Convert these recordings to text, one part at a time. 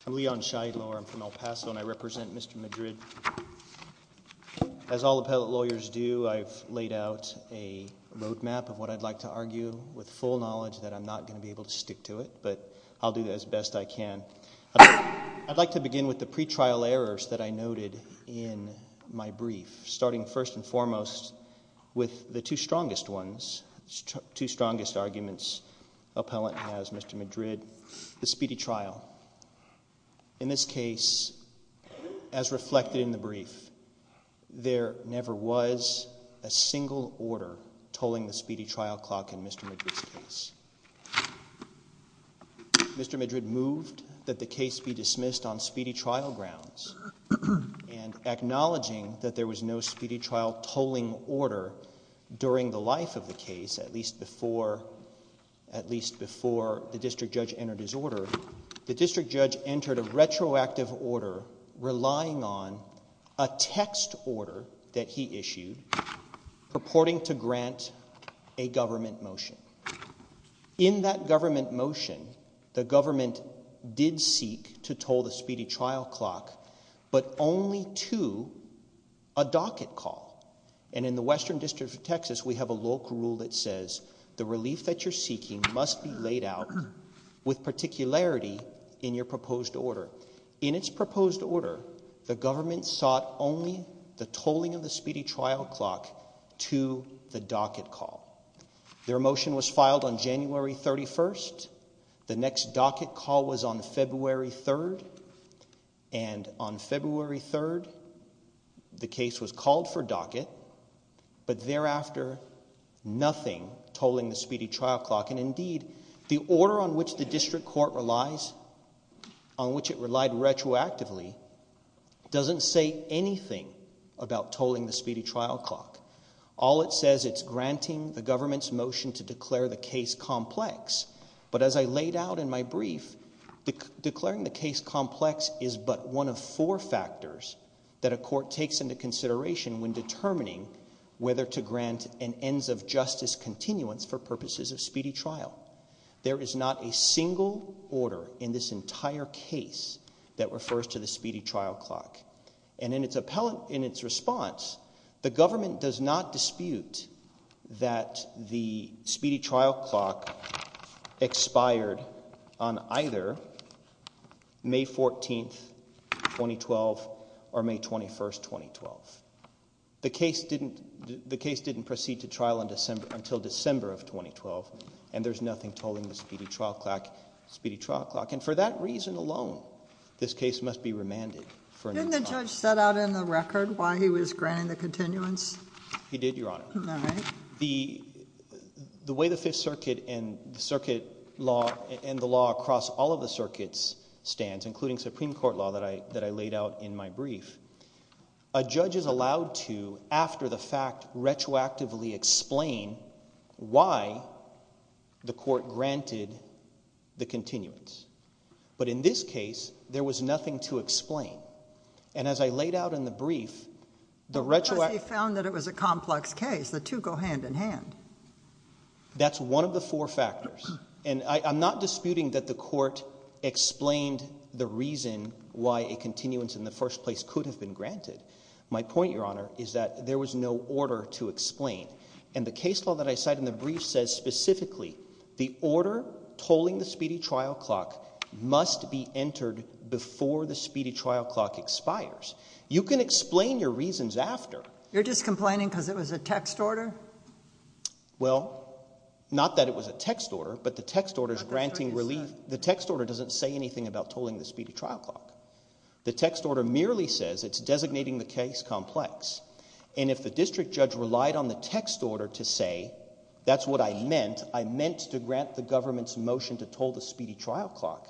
from El Paso and I represent Mr. Madrid. As all appellate lawyers do I've laid out a road map of what I'd like to argue with full knowledge that I'm not going to be able to stick to it, but I'll do that as best I can. I'd like to begin with the pre-trial errors that I noted in my brief, starting first and foremost with the two strongest ones, two strongest arguments appellant has, Mr. Madrid, the speedy trial. In this case, as reflected in the brief, there never was a single order tolling the speedy trial clock in Mr. Madrid's case. Mr. Madrid moved that the case be dismissed on speedy trial grounds and acknowledging that there was no speedy trial tolling order during the life of the case, at least before the district judge entered his order, the district judge entered a retroactive order relying on a text order that he issued purporting to grant a government motion. In that government motion, the government did seek to toll the speedy trial clock, but only to a docket call. And in the Western District of Texas we have a local rule that says the relief that you're seeking must be laid out with particularity in your proposed order. In its proposed order, the government sought only the tolling of the speedy trial clock to the docket call. Their motion was filed on January 31st, the next docket call was on February 3rd, and on February 3rd the case was called for docket, but thereafter nothing tolling the speedy trial clock. And indeed, the order on which the district court relies, on which it relied retroactively, doesn't say anything about tolling the speedy trial clock. All it says, it's granting the government's motion to declare the case complex, but as I laid out in my brief, declaring the case complex is but one of four factors that a court takes into consideration when determining whether to grant an ends of justice continuance for purposes of speedy trial. There is not a single order in this entire case that refers to the speedy trial clock, and in its response, the government does not dispute that the speedy trial clock expired on either May 14th, 2012, or May 21st, 2012. The case didn't proceed to trial until December of 2012, and there's nothing tolling the speedy trial clock, and for that reason alone, this case must be remanded. Didn't the judge set out in the record why he was granting the continuance? He did, Your Honor. All right. The way the Fifth Circuit and the law across all of the circuits stands, including Supreme Court law that I laid out in my brief, a judge is allowed to, after the fact, retroactively explain why the court granted the continuance. But in this case, there was nothing to explain. And as I laid out in the brief, the retroactive— Because he found that it was a complex case. The two go hand in hand. That's one of the four factors, and I'm not disputing that the court explained the reason why a continuance in the first place could have been granted. My point, Your Honor, is that there was no order to explain, and the case law that I cite in the brief says specifically the order tolling the speedy trial clock must be entered before the speedy trial clock expires. You can explain your reasons after. You're just complaining because it was a text order? Well, not that it was a text order, but the text order is granting relief. The text order doesn't say anything about tolling the speedy trial clock. The text order merely says it's designating the case complex. And if the district judge relied on the text order to say that's what I meant, I meant to grant the government's motion to toll the speedy trial clock.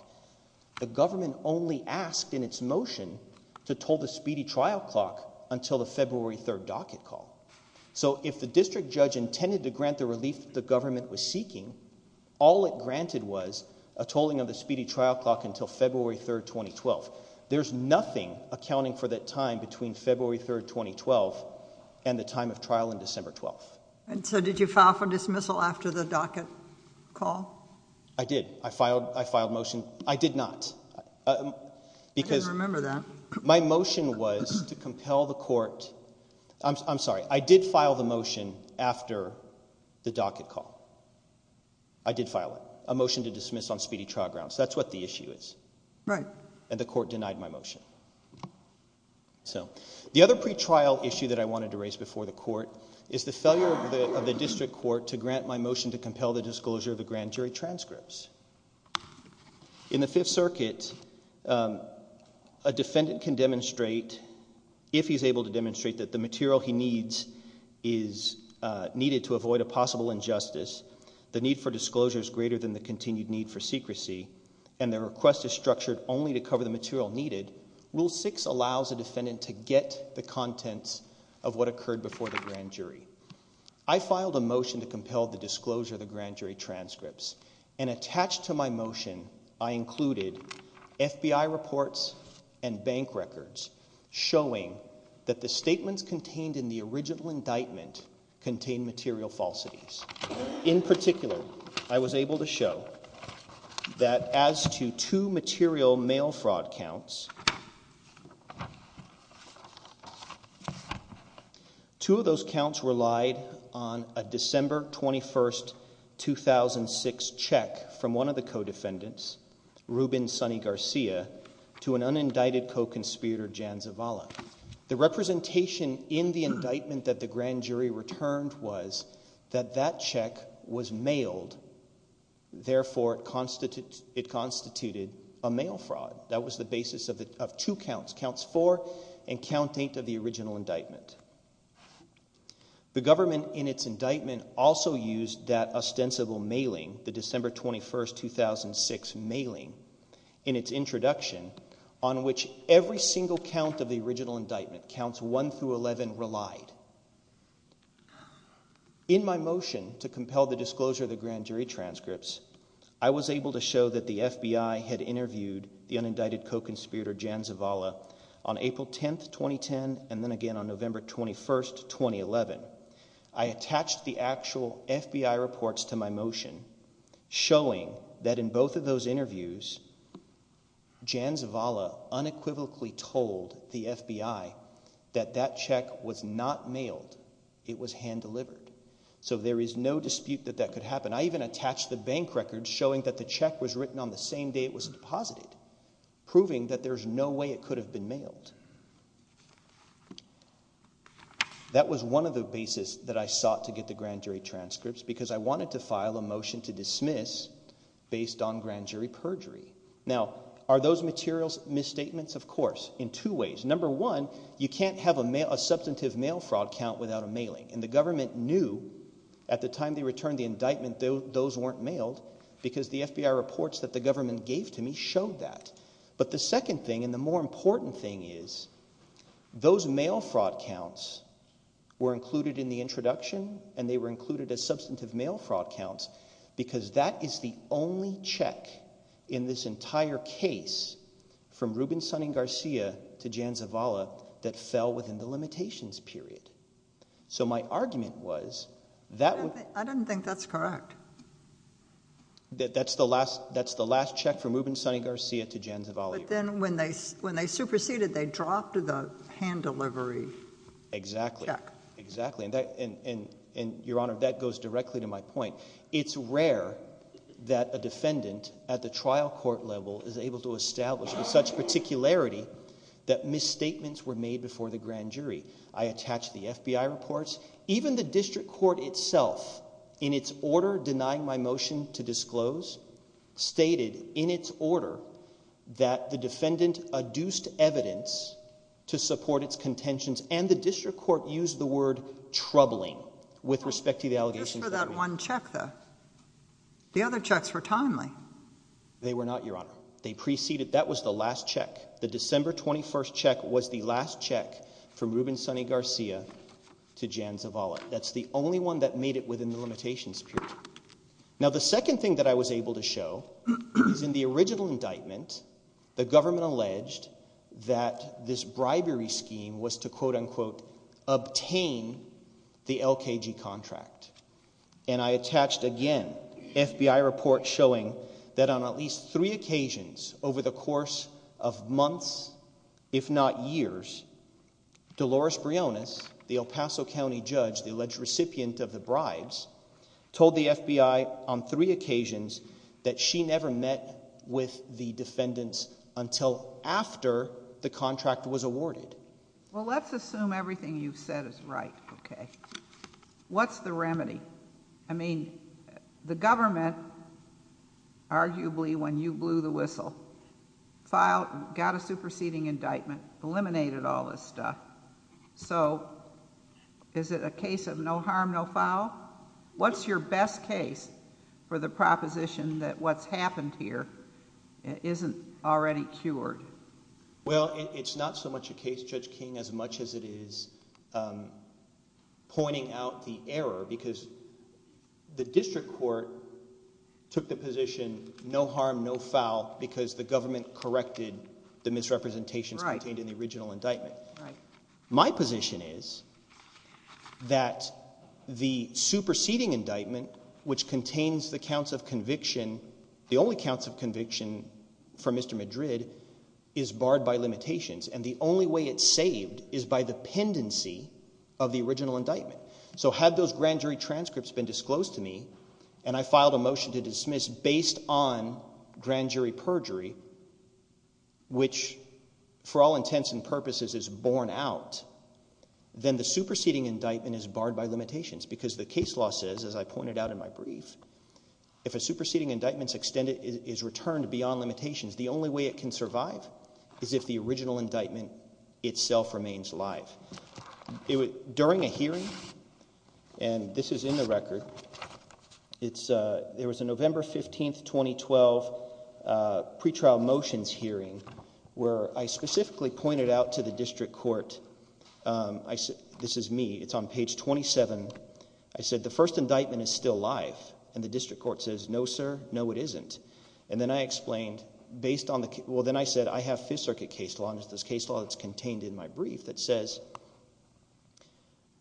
The government only asked in its motion to toll the speedy trial clock until the February 3rd docket call. So if the district judge intended to grant the relief the government was seeking, all it granted was a tolling of the speedy trial clock until February 3rd, 2012. There's nothing accounting for that time between February 3rd, 2012 and the time of trial in December 12th. And so did you file for dismissal after the docket call? I did. I filed a motion. I did not. I didn't remember that. My motion was to compel the court. I'm sorry. I did file the motion after the docket call. I did file it. A motion to dismiss on speedy trial grounds. That's what the issue is. Right. And the court denied my motion. So the other pretrial issue that I wanted to raise before the court is the failure of the district court to grant my motion to compel the disclosure of the grand jury transcripts. In the Fifth Circuit, a defendant can demonstrate, if he's able to demonstrate, that the material he needs is needed to avoid a possible injustice. The need for disclosure is greater than the continued need for secrecy. And the request is structured only to cover the material needed. Rule 6 allows a defendant to get the contents of what occurred before the grand jury. I filed a motion to compel the disclosure of the grand jury transcripts. And attached to my motion, I included FBI reports and bank records showing that the statements contained in the original indictment contained material falsities. In particular, I was able to show that as to two material mail fraud counts, two of those counts relied on a December 21, 2006, check from one of the co-defendants, Ruben Sonny Garcia, to an unindicted co-conspirator, Jan Zavala. The representation in the indictment that the grand jury returned was that that check was mailed. Therefore, it constituted a mail fraud. That was the basis of two counts, Counts 4 and Count 8 of the original indictment. The government in its indictment also used that ostensible mailing, the December 21, 2006 mailing, in its introduction, on which every single count of the original indictment, Counts 1 through 11, relied. In my motion to compel the disclosure of the grand jury transcripts, I was able to show that the FBI had interviewed the unindicted co-conspirator, Jan Zavala, on April 10, 2010, and then again on November 21, 2011. I attached the actual FBI reports to my motion, showing that in both of those interviews, Jan Zavala unequivocally told the FBI that that check was not mailed. It was hand-delivered. So there is no dispute that that could happen. I even attached the bank records showing that the check was written on the same day it was deposited, proving that there's no way it could have been mailed. That was one of the basis that I sought to get the grand jury transcripts because I wanted to file a motion to dismiss based on grand jury perjury. Now, are those materials misstatements? Of course, in two ways. Number one, you can't have a substantive mail fraud count without a mailing, and the government knew at the time they returned the indictment those weren't mailed because the FBI reports that the government gave to me showed that. But the second thing and the more important thing is those mail fraud counts were included in the introduction, and they were included as substantive mail fraud counts because that is the only check in this entire case from Ruben Sonning Garcia to Jan Zavala that fell within the limitations period. So my argument was that – I don't think that's correct. That's the last check from Ruben Sonning Garcia to Jan Zavala. But then when they superseded, they dropped the hand delivery check. Exactly. And, Your Honor, that goes directly to my point. It's rare that a defendant at the trial court level is able to establish with such particularity that misstatements were made before the grand jury. I attach the FBI reports. Even the district court itself, in its order denying my motion to disclose, stated in its order that the defendant adduced evidence to support its contentions, and the district court used the word troubling with respect to the allegations. Just for that one check, though. The other checks were timely. They were not, Your Honor. They preceded – that was the last check. The December 21st check was the last check from Ruben Sonning Garcia to Jan Zavala. That's the only one that made it within the limitations period. Now, the second thing that I was able to show is in the original indictment, the government alleged that this bribery scheme was to, quote-unquote, obtain the LKG contract. And I attached, again, FBI reports showing that on at least three occasions over the course of months, if not years, Dolores Briones, the El Paso County judge, the alleged recipient of the bribes, told the FBI on three occasions that she never met with the defendants until after the contract was awarded. Well, let's assume everything you've said is right. Okay. What's the remedy? I mean, the government, arguably when you blew the whistle, filed – got a superseding indictment, eliminated all this stuff. So is it a case of no harm, no foul? What's your best case for the proposition that what's happened here isn't already cured? Well, it's not so much a case, Judge King, as much as it is pointing out the error because the district court took the position no harm, no foul because the government corrected the misrepresentations contained in the original indictment. My position is that the superseding indictment, which contains the counts of conviction – the only counts of conviction for Mr. Madrid is barred by limitations, and the only way it's saved is by the pendency of the original indictment. So had those grand jury transcripts been disclosed to me and I filed a motion to dismiss based on grand jury perjury, which for all intents and purposes is borne out, then the superseding indictment is barred by limitations because the case law says, as I pointed out in my brief, if a superseding indictment is returned beyond limitations, the only way it can survive is if the original indictment itself remains alive. During a hearing, and this is in the record, there was a November 15, 2012 pretrial motions hearing where I specifically pointed out to the district court – this is me, it's on page 27 – I said the first indictment is still alive, and the district court says, no sir, no it isn't. And then I explained, well then I said I have Fifth Circuit case law, and it's this case law that's contained in my brief that says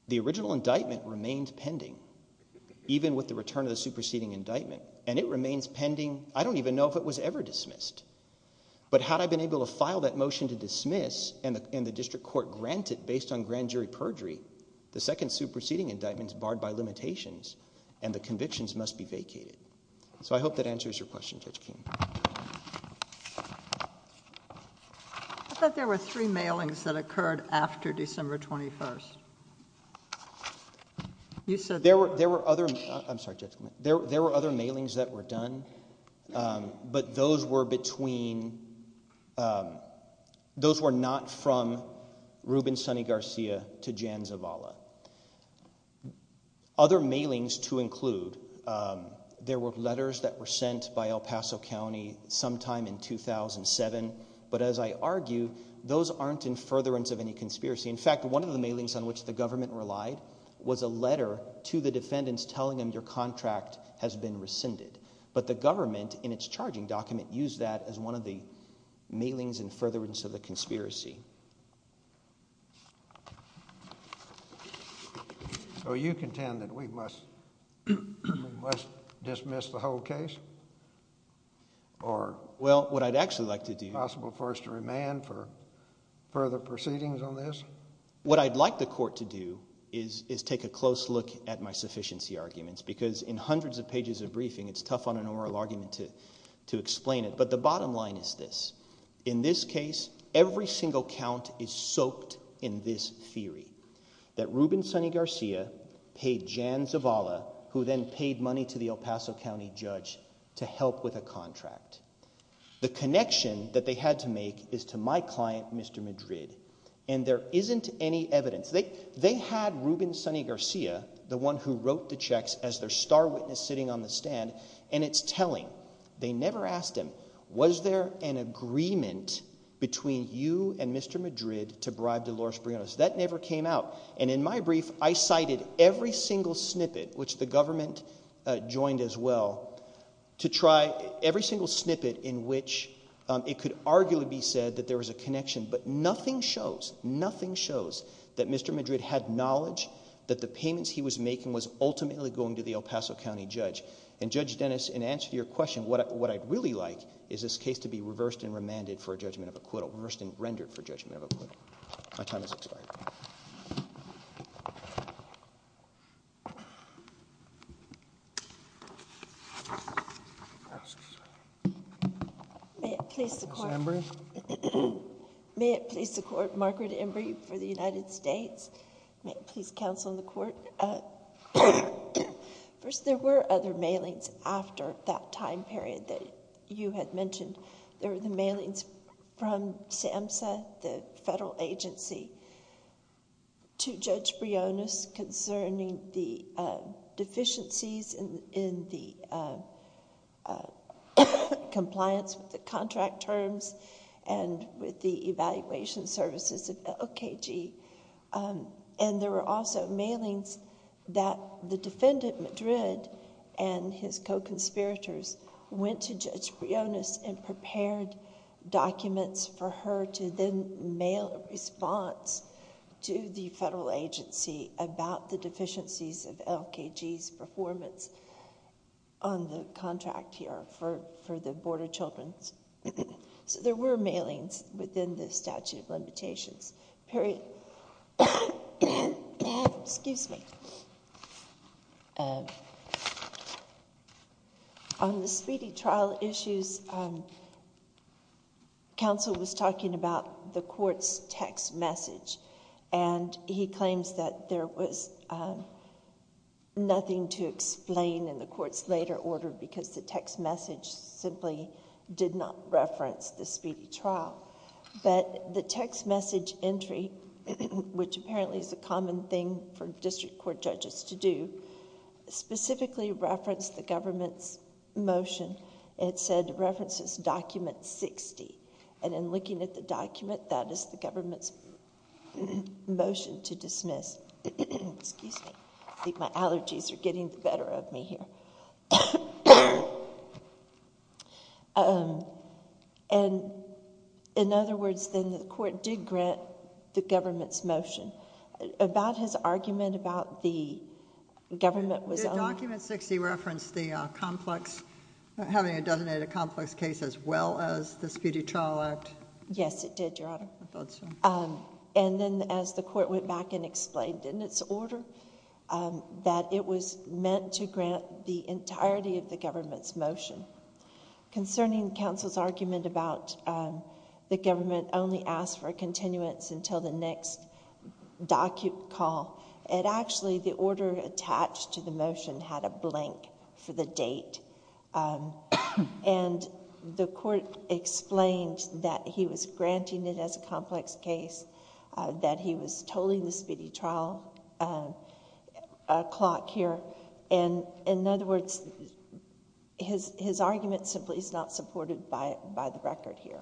the original indictment remains pending even with the return of the superseding indictment, and it remains pending – I don't even know if it was ever dismissed. But had I been able to file that motion to dismiss and the district court grant it based on grand jury perjury, the second superseding indictment is barred by limitations and the convictions must be vacated. So I hope that answers your question, Judge King. I thought there were three mailings that occurred after December 21st. There were other mailings that were done, but those were between – those were not from Ruben Sonny Garcia to Jan Zavala. Other mailings to include, there were letters that were sent by El Paso County sometime in 2007, but as I argue, those aren't in furtherance of any conspiracy. In fact, one of the mailings on which the government relied was a letter to the defendants telling them your contract has been rescinded. But the government, in its charging document, used that as one of the mailings in furtherance of the conspiracy. So you contend that we must dismiss the whole case? Well, what I'd actually like to do – Is it possible for us to remand for further proceedings on this? What I'd like the court to do is take a close look at my sufficiency arguments because in hundreds of pages of briefing, it's tough on an oral argument to explain it. But the bottom line is this. In this case, every single count is soaked in this theory that Ruben Sonny Garcia paid Jan Zavala, who then paid money to the El Paso County judge, to help with a contract. The connection that they had to make is to my client, Mr. Madrid, and there isn't any evidence. They had Ruben Sonny Garcia, the one who wrote the checks, as their star witness sitting on the stand, and it's telling. They never asked him, was there an agreement between you and Mr. Madrid to bribe Dolores Briones? That never came out, and in my brief, I cited every single snippet, which the government joined as well, to try every single snippet in which it could arguably be said that there was a connection. But nothing shows, nothing shows that Mr. Madrid had knowledge that the payments he was making was ultimately going to the El Paso County judge. And Judge Dennis, in answer to your question, what I'd really like is this case to be reversed and remanded for a judgment of acquittal, reversed and rendered for judgment of acquittal. My time is up. May it please the court. Margaret Embry. May it please the court, Margaret Embry for the United States. May it please counsel in the court. First, there were other mailings after that time period that you had mentioned. There were the mailings from SAMHSA, the federal agency, to Judge Briones concerning the deficiencies in the compliance with the contract terms and with the evaluation services of LKG. And there were also mailings that the defendant, Madrid, and his co-conspirators went to Judge Briones and prepared documents for her to then mail a response to the federal agency about the deficiencies of LKG's performance on the contract here for the Board of Children's. So there were mailings within the statute of limitations period. Excuse me. On the speedy trial issues, counsel was talking about the court's text message and he claims that there was nothing to explain in the court's later order because the text message simply did not reference the speedy trial. But the text message entry, which apparently is a common thing for district court judges to do, specifically referenced the government's motion. It said references document 60. And in looking at the document, that is the government's motion to dismiss. Excuse me. I think my allergies are getting the better of me here. And in other words, then the court did grant the government's motion. About his argument about the government was only... Did document 60 reference the complex... having a designated complex case as well as the speedy trial act? Yes, it did, Your Honor. I thought so. And then as the court went back and explained in its order that it was meant to grant the entirety of the government's motion. Concerning counsel's argument about the government only asked for a continuance until the next document call, it actually, the order attached to the motion had a blank for the date. And the court explained that he was granting it as a complex case, that he was tolling the speedy trial clock here. And in other words, his argument simply is not supported by the record here.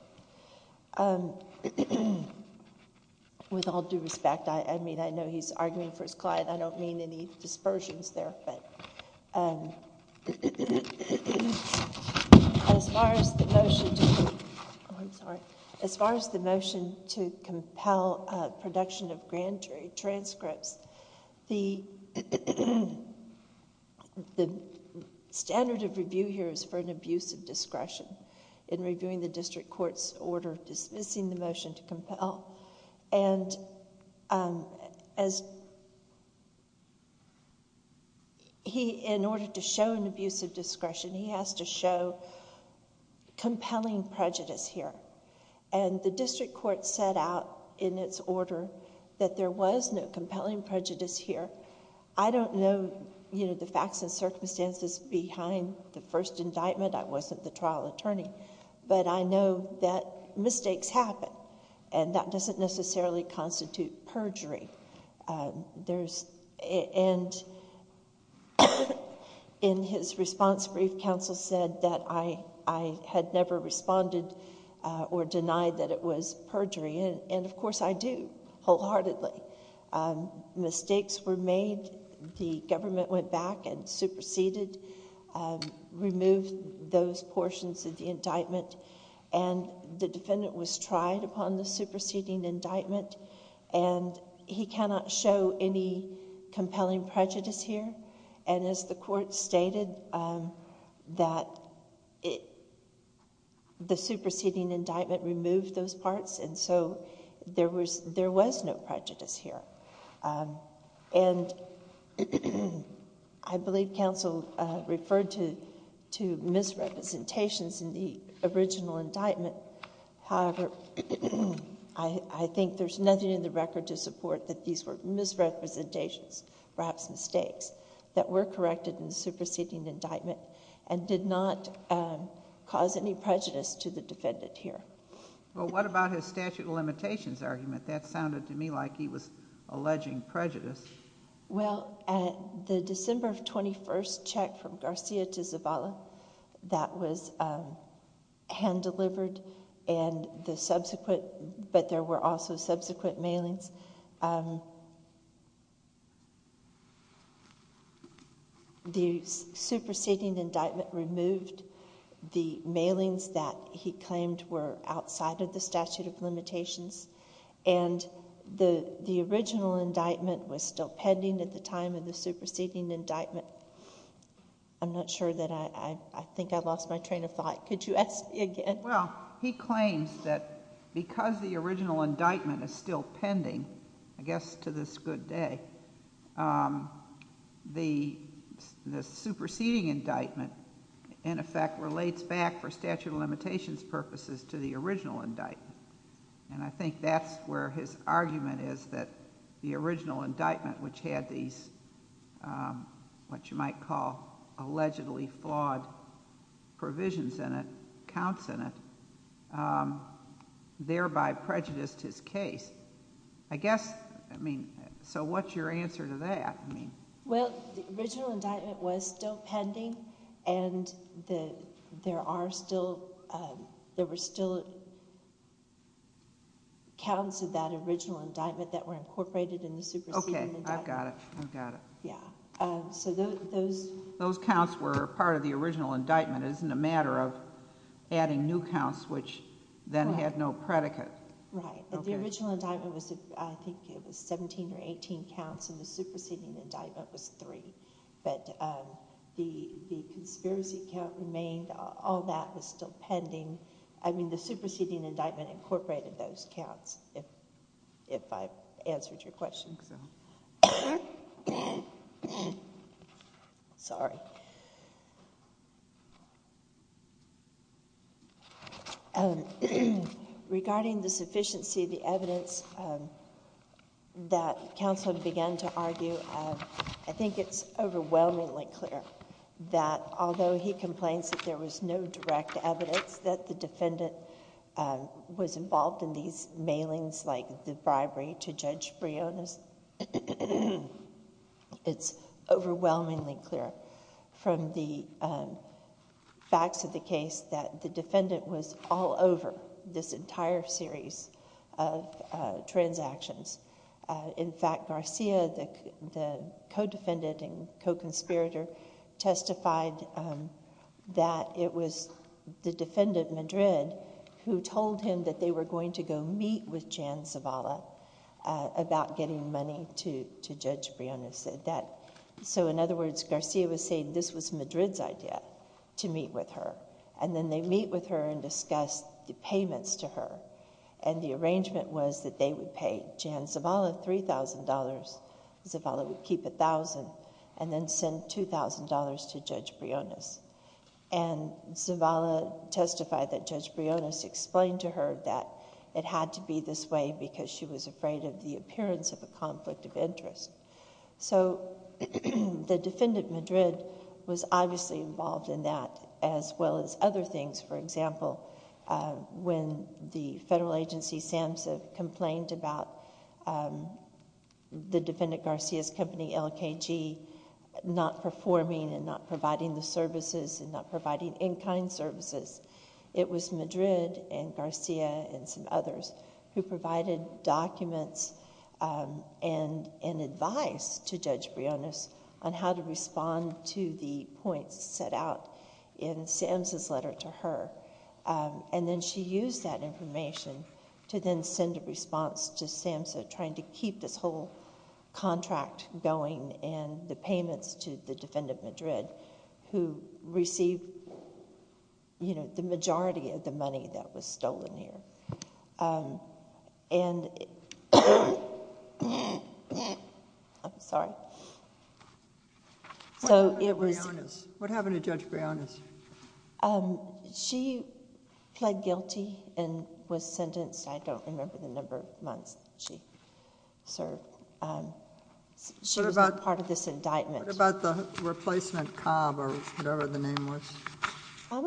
With all due respect, I mean, I know he's arguing for his client. I don't mean any dispersions there, but as far as the motion to... Oh, I'm sorry. As far as the motion to compel production of grand jury transcripts, the standard of review here is for an abuse of discretion in reviewing the district court's order dismissing the motion to compel. And in order to show an abuse of discretion, he has to show compelling prejudice here. And the district court set out in its order that there was no compelling prejudice here. I don't know the facts and circumstances behind the first indictment. I wasn't the trial attorney. But I know that mistakes happen, and that doesn't necessarily constitute perjury. And in his response brief, counsel said that I had never responded or denied that it was perjury. And, of course, I do wholeheartedly. Mistakes were made. The government went back and superseded, removed those portions of the indictment. And the defendant was tried upon the superseding indictment, and he cannot show any compelling prejudice here. And as the court stated, the superseding indictment removed those parts, and so there was no prejudice here. And I believe counsel referred to misrepresentations in the original indictment. However, I think there's nothing in the record to support that these were misrepresentations, perhaps mistakes, that were corrected in the superseding indictment and did not cause any prejudice to the defendant here. Well, what about his statute of limitations argument? That sounded to me like he was alleging prejudice. Well, the December 21st check from Garcia to Zavala, that was hand-delivered, but there were also subsequent mailings. The superseding indictment removed the mailings that he claimed were outside of the statute of limitations. And the original indictment was still pending at the time of the superseding indictment. I'm not sure that I—I think I lost my train of thought. Could you ask me again? Well, he claims that because the original indictment is still pending, I guess to this good day, the superseding indictment, in effect, relates back for statute of limitations purposes to the original indictment. And I think that's where his argument is that the original indictment, which had these, what you might call, allegedly flawed provisions in it, counts in it, thereby prejudiced his case. I guess, I mean, so what's your answer to that? Well, the original indictment was still pending, and there were still counts of that original indictment that were incorporated in the superseding indictment. Okay. I've got it. I've got it. Yeah. So those— Those counts were part of the original indictment. It isn't a matter of adding new counts, which then had no predicate. Right. The original indictment was—I think it was 17 or 18 counts, and the superseding indictment was three. But the conspiracy count remained. All that was still pending. I mean, the superseding indictment incorporated those counts, if I've answered your question. Sorry. Regarding the sufficiency of the evidence that counsel began to argue, I think it's overwhelmingly clear that although he complains that there was no direct evidence that the defendant was involved in these mailings like the bribery to Judge Briones, it's overwhelmingly clear. From the facts of the case that the defendant was all over this entire series of transactions. In fact, Garcia, the co-defendant and co-conspirator, testified that it was the defendant, Madrid, who told him that they were going to go meet with Jan Zavala about getting money to Judge Briones. In other words, Garcia was saying this was Madrid's idea, to meet with her. Then they meet with her and discuss the payments to her. The arrangement was that they would pay Jan Zavala $3,000, Zavala would keep $1,000, and then send $2,000 to Judge Briones. Zavala testified that Judge Briones explained to her that it had to be this way because she was afraid of the appearance of a conflict of interest. The defendant, Madrid, was obviously involved in that as well as other things. For example, when the federal agency, SAMHSA, complained about the defendant, Garcia's company, LKG, not performing and not providing the services and not providing in-kind services, it was Madrid and Garcia and some others who provided documents and advice to Judge Briones on how to respond to the points set out in SAMHSA's letter to her. Then she used that information to then send a response to SAMHSA trying to keep this whole contract going and the payments to the defendant, Madrid, who received the majority of the money that was stolen here. I'm sorry. What happened to Judge Briones? She pled guilty and was sentenced. I don't remember the number of months she served. She was not part of this indictment. What about the replacement, Cobb, or whatever the name was? Cobb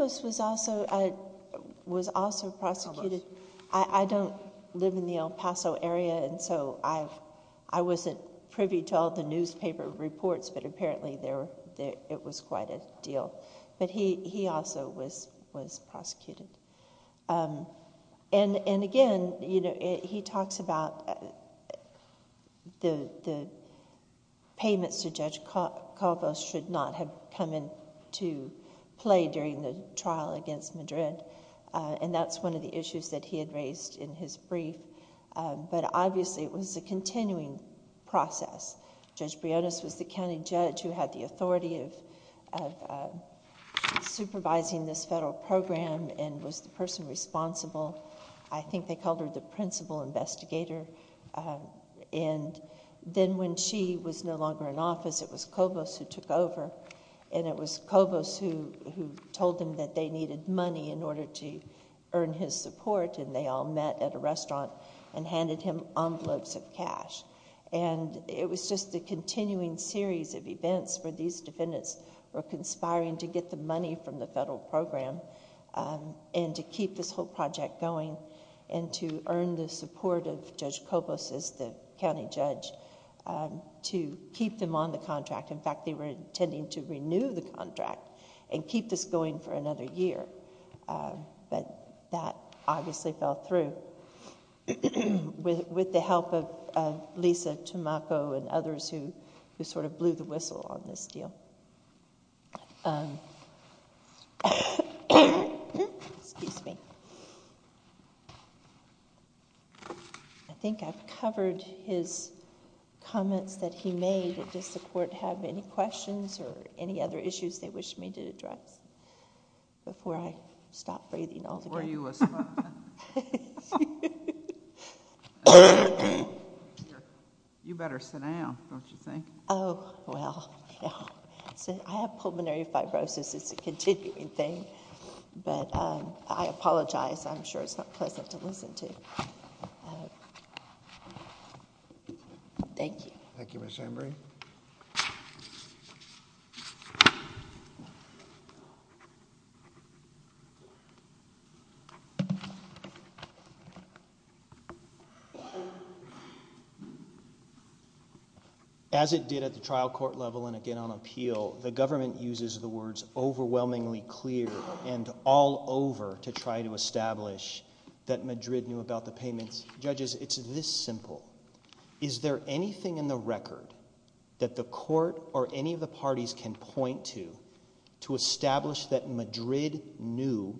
was also prosecuted. I don't live in the El Paso area, so I wasn't privy to all the newspaper reports, but apparently it was quite a deal. He also was prosecuted. Again, he talks about the payments to Judge Cobb should not have come into play during the trial against Madrid. That's one of the issues that he had raised in his brief. Obviously, it was a continuing process. Judge Briones was the county judge who had the authority of supervising this federal program and was the person responsible. I think they called her the principal investigator. Then when she was no longer in office, it was Cobb who took over. It was Cobb who told them that they needed money in order to earn his support. They all met at a restaurant and handed him envelopes of cash. It was just a continuing series of events where these defendants were conspiring to get the money from the federal program and to keep this whole project going and to earn the support of Judge Cobb as the county judge to keep them on the contract. In fact, they were intending to renew the contract and keep this going for another year. That obviously fell through with the help of Lisa Tomako and others who blew the whistle on this deal. I think I've covered his comments that he made. Does the court have any questions or any other issues they wish me to address before I stop breathing altogether? You better sit down, don't you think? Oh, well. I have pulmonary fibrosis. It's a continuing thing. I apologize. I'm sure it's not pleasant to listen to. Thank you. Thank you, Mr. Embry. As it did at the trial court level and again on appeal, the government uses the words overwhelmingly clear and all over to try to establish that Madrid knew about the payments. Judges, it's this simple. Is there anything in the record that the court or any of the parties can point to to establish that Madrid knew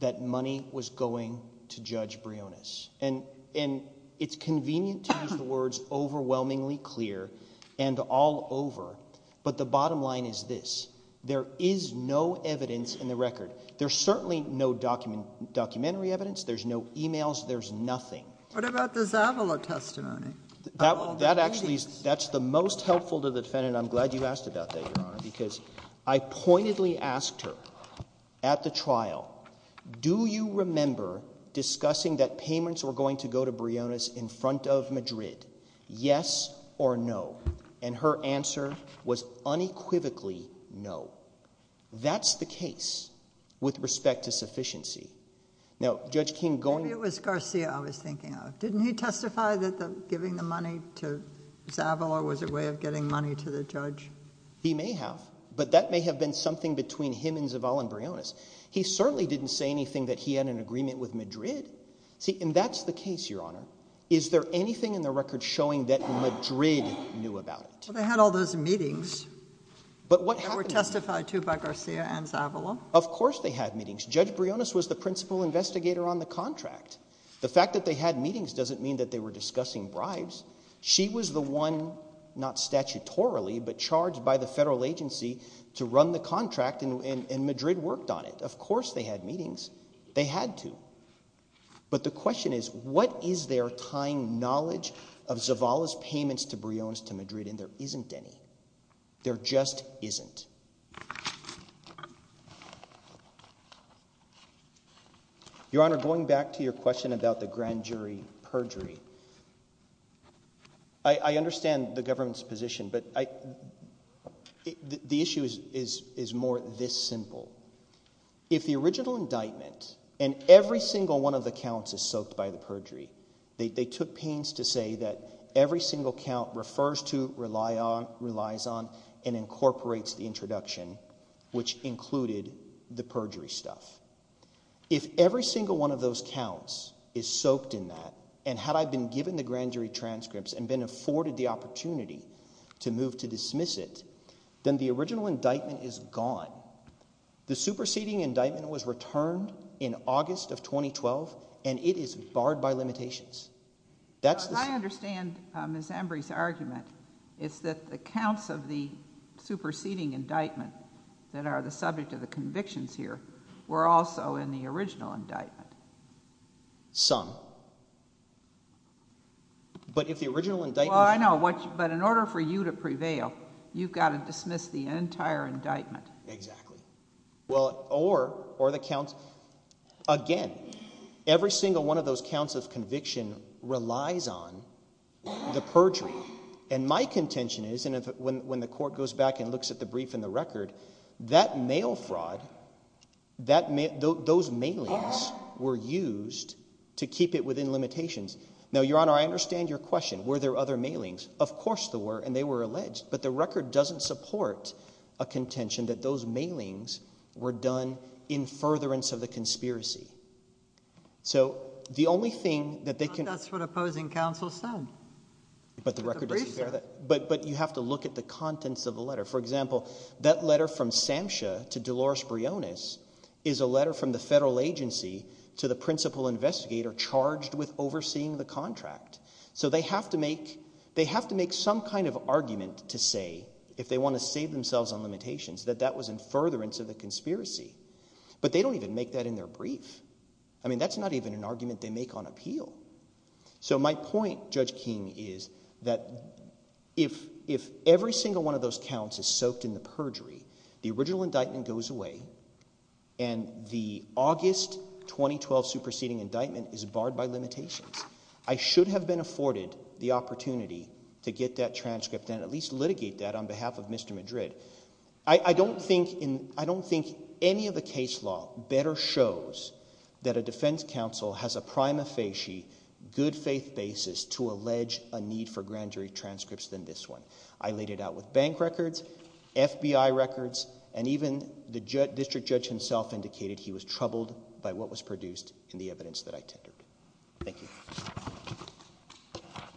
that money was going to Judge Briones? And it's convenient to use the words overwhelmingly clear and all over, but the bottom line is this. There is no evidence in the record. There's certainly no documentary evidence. There's no emails. There's nothing. What about the Zavala testimony? That actually is the most helpful to the defendant. I'm glad you asked about that, Your Honor, because I pointedly asked her at the trial, do you remember discussing that payments were going to go to Briones in front of Madrid, yes or no? And her answer was unequivocally no. That's the case with respect to sufficiency. Maybe it was Garcia I was thinking of. Didn't he testify that giving the money to Zavala was a way of getting money to the judge? He may have, but that may have been something between him and Zavala and Briones. He certainly didn't say anything that he had an agreement with Madrid. See, and that's the case, Your Honor. Is there anything in the record showing that Madrid knew about it? Well, they had all those meetings that were testified to by Garcia and Zavala. Of course they had meetings. Judge Briones was the principal investigator on the contract. The fact that they had meetings doesn't mean that they were discussing bribes. She was the one, not statutorily, but charged by the federal agency to run the contract, and Madrid worked on it. Of course they had meetings. They had to. But the question is what is their time knowledge of Zavala's payments to Briones to Madrid, and there isn't any. There just isn't. Your Honor, going back to your question about the grand jury perjury, I understand the government's position, but the issue is more this simple. If the original indictment and every single one of the counts is soaked by the perjury, they took pains to say that every single count refers to, relies on, and incorporates the introduction, which included the perjury stuff. If every single one of those counts is soaked in that, and had I been given the grand jury transcripts and been afforded the opportunity to move to dismiss it, then the original indictment is gone. The superseding indictment was returned in August of 2012, and it is barred by limitations. I understand Ms. Embry's argument. It's that the counts of the superseding indictment that are the subject of the convictions here were also in the original indictment. Some. But if the original indictment... Well, I know, but in order for you to prevail, you've got to dismiss the entire indictment. Exactly. Well, or the counts... Again, every single one of those counts of conviction relies on the perjury. And my contention is, and when the court goes back and looks at the brief and the record, that mail fraud, those mailings were used to keep it within limitations. Now, Your Honor, I understand your question. Were there other mailings? Of course there were, and they were alleged. But the record doesn't support a contention that those mailings were done in furtherance of the conspiracy. So the only thing that they can... But that's what opposing counsel said. But the record doesn't bear that. But you have to look at the contents of the letter. For example, that letter from Samsha to Dolores Briones is a letter from the federal agency to the principal investigator charged with overseeing the contract. So they have to make some kind of argument to say, if they want to save themselves on limitations, that that was in furtherance of the conspiracy. But they don't even make that in their brief. I mean that's not even an argument they make on appeal. So my point, Judge King, is that if every single one of those counts is soaked in the perjury, the original indictment goes away and the August 2012 superseding indictment is barred by limitations. I should have been afforded the opportunity to get that transcript and at least litigate that on behalf of Mr. Madrid. I don't think any of the case law better shows that a defense counsel has a prima facie, good faith basis to allege a need for grand jury transcripts than this one. I laid it out with bank records, FBI records, and even the district judge himself indicated he was troubled by what was produced in the evidence that I tendered. Thank you.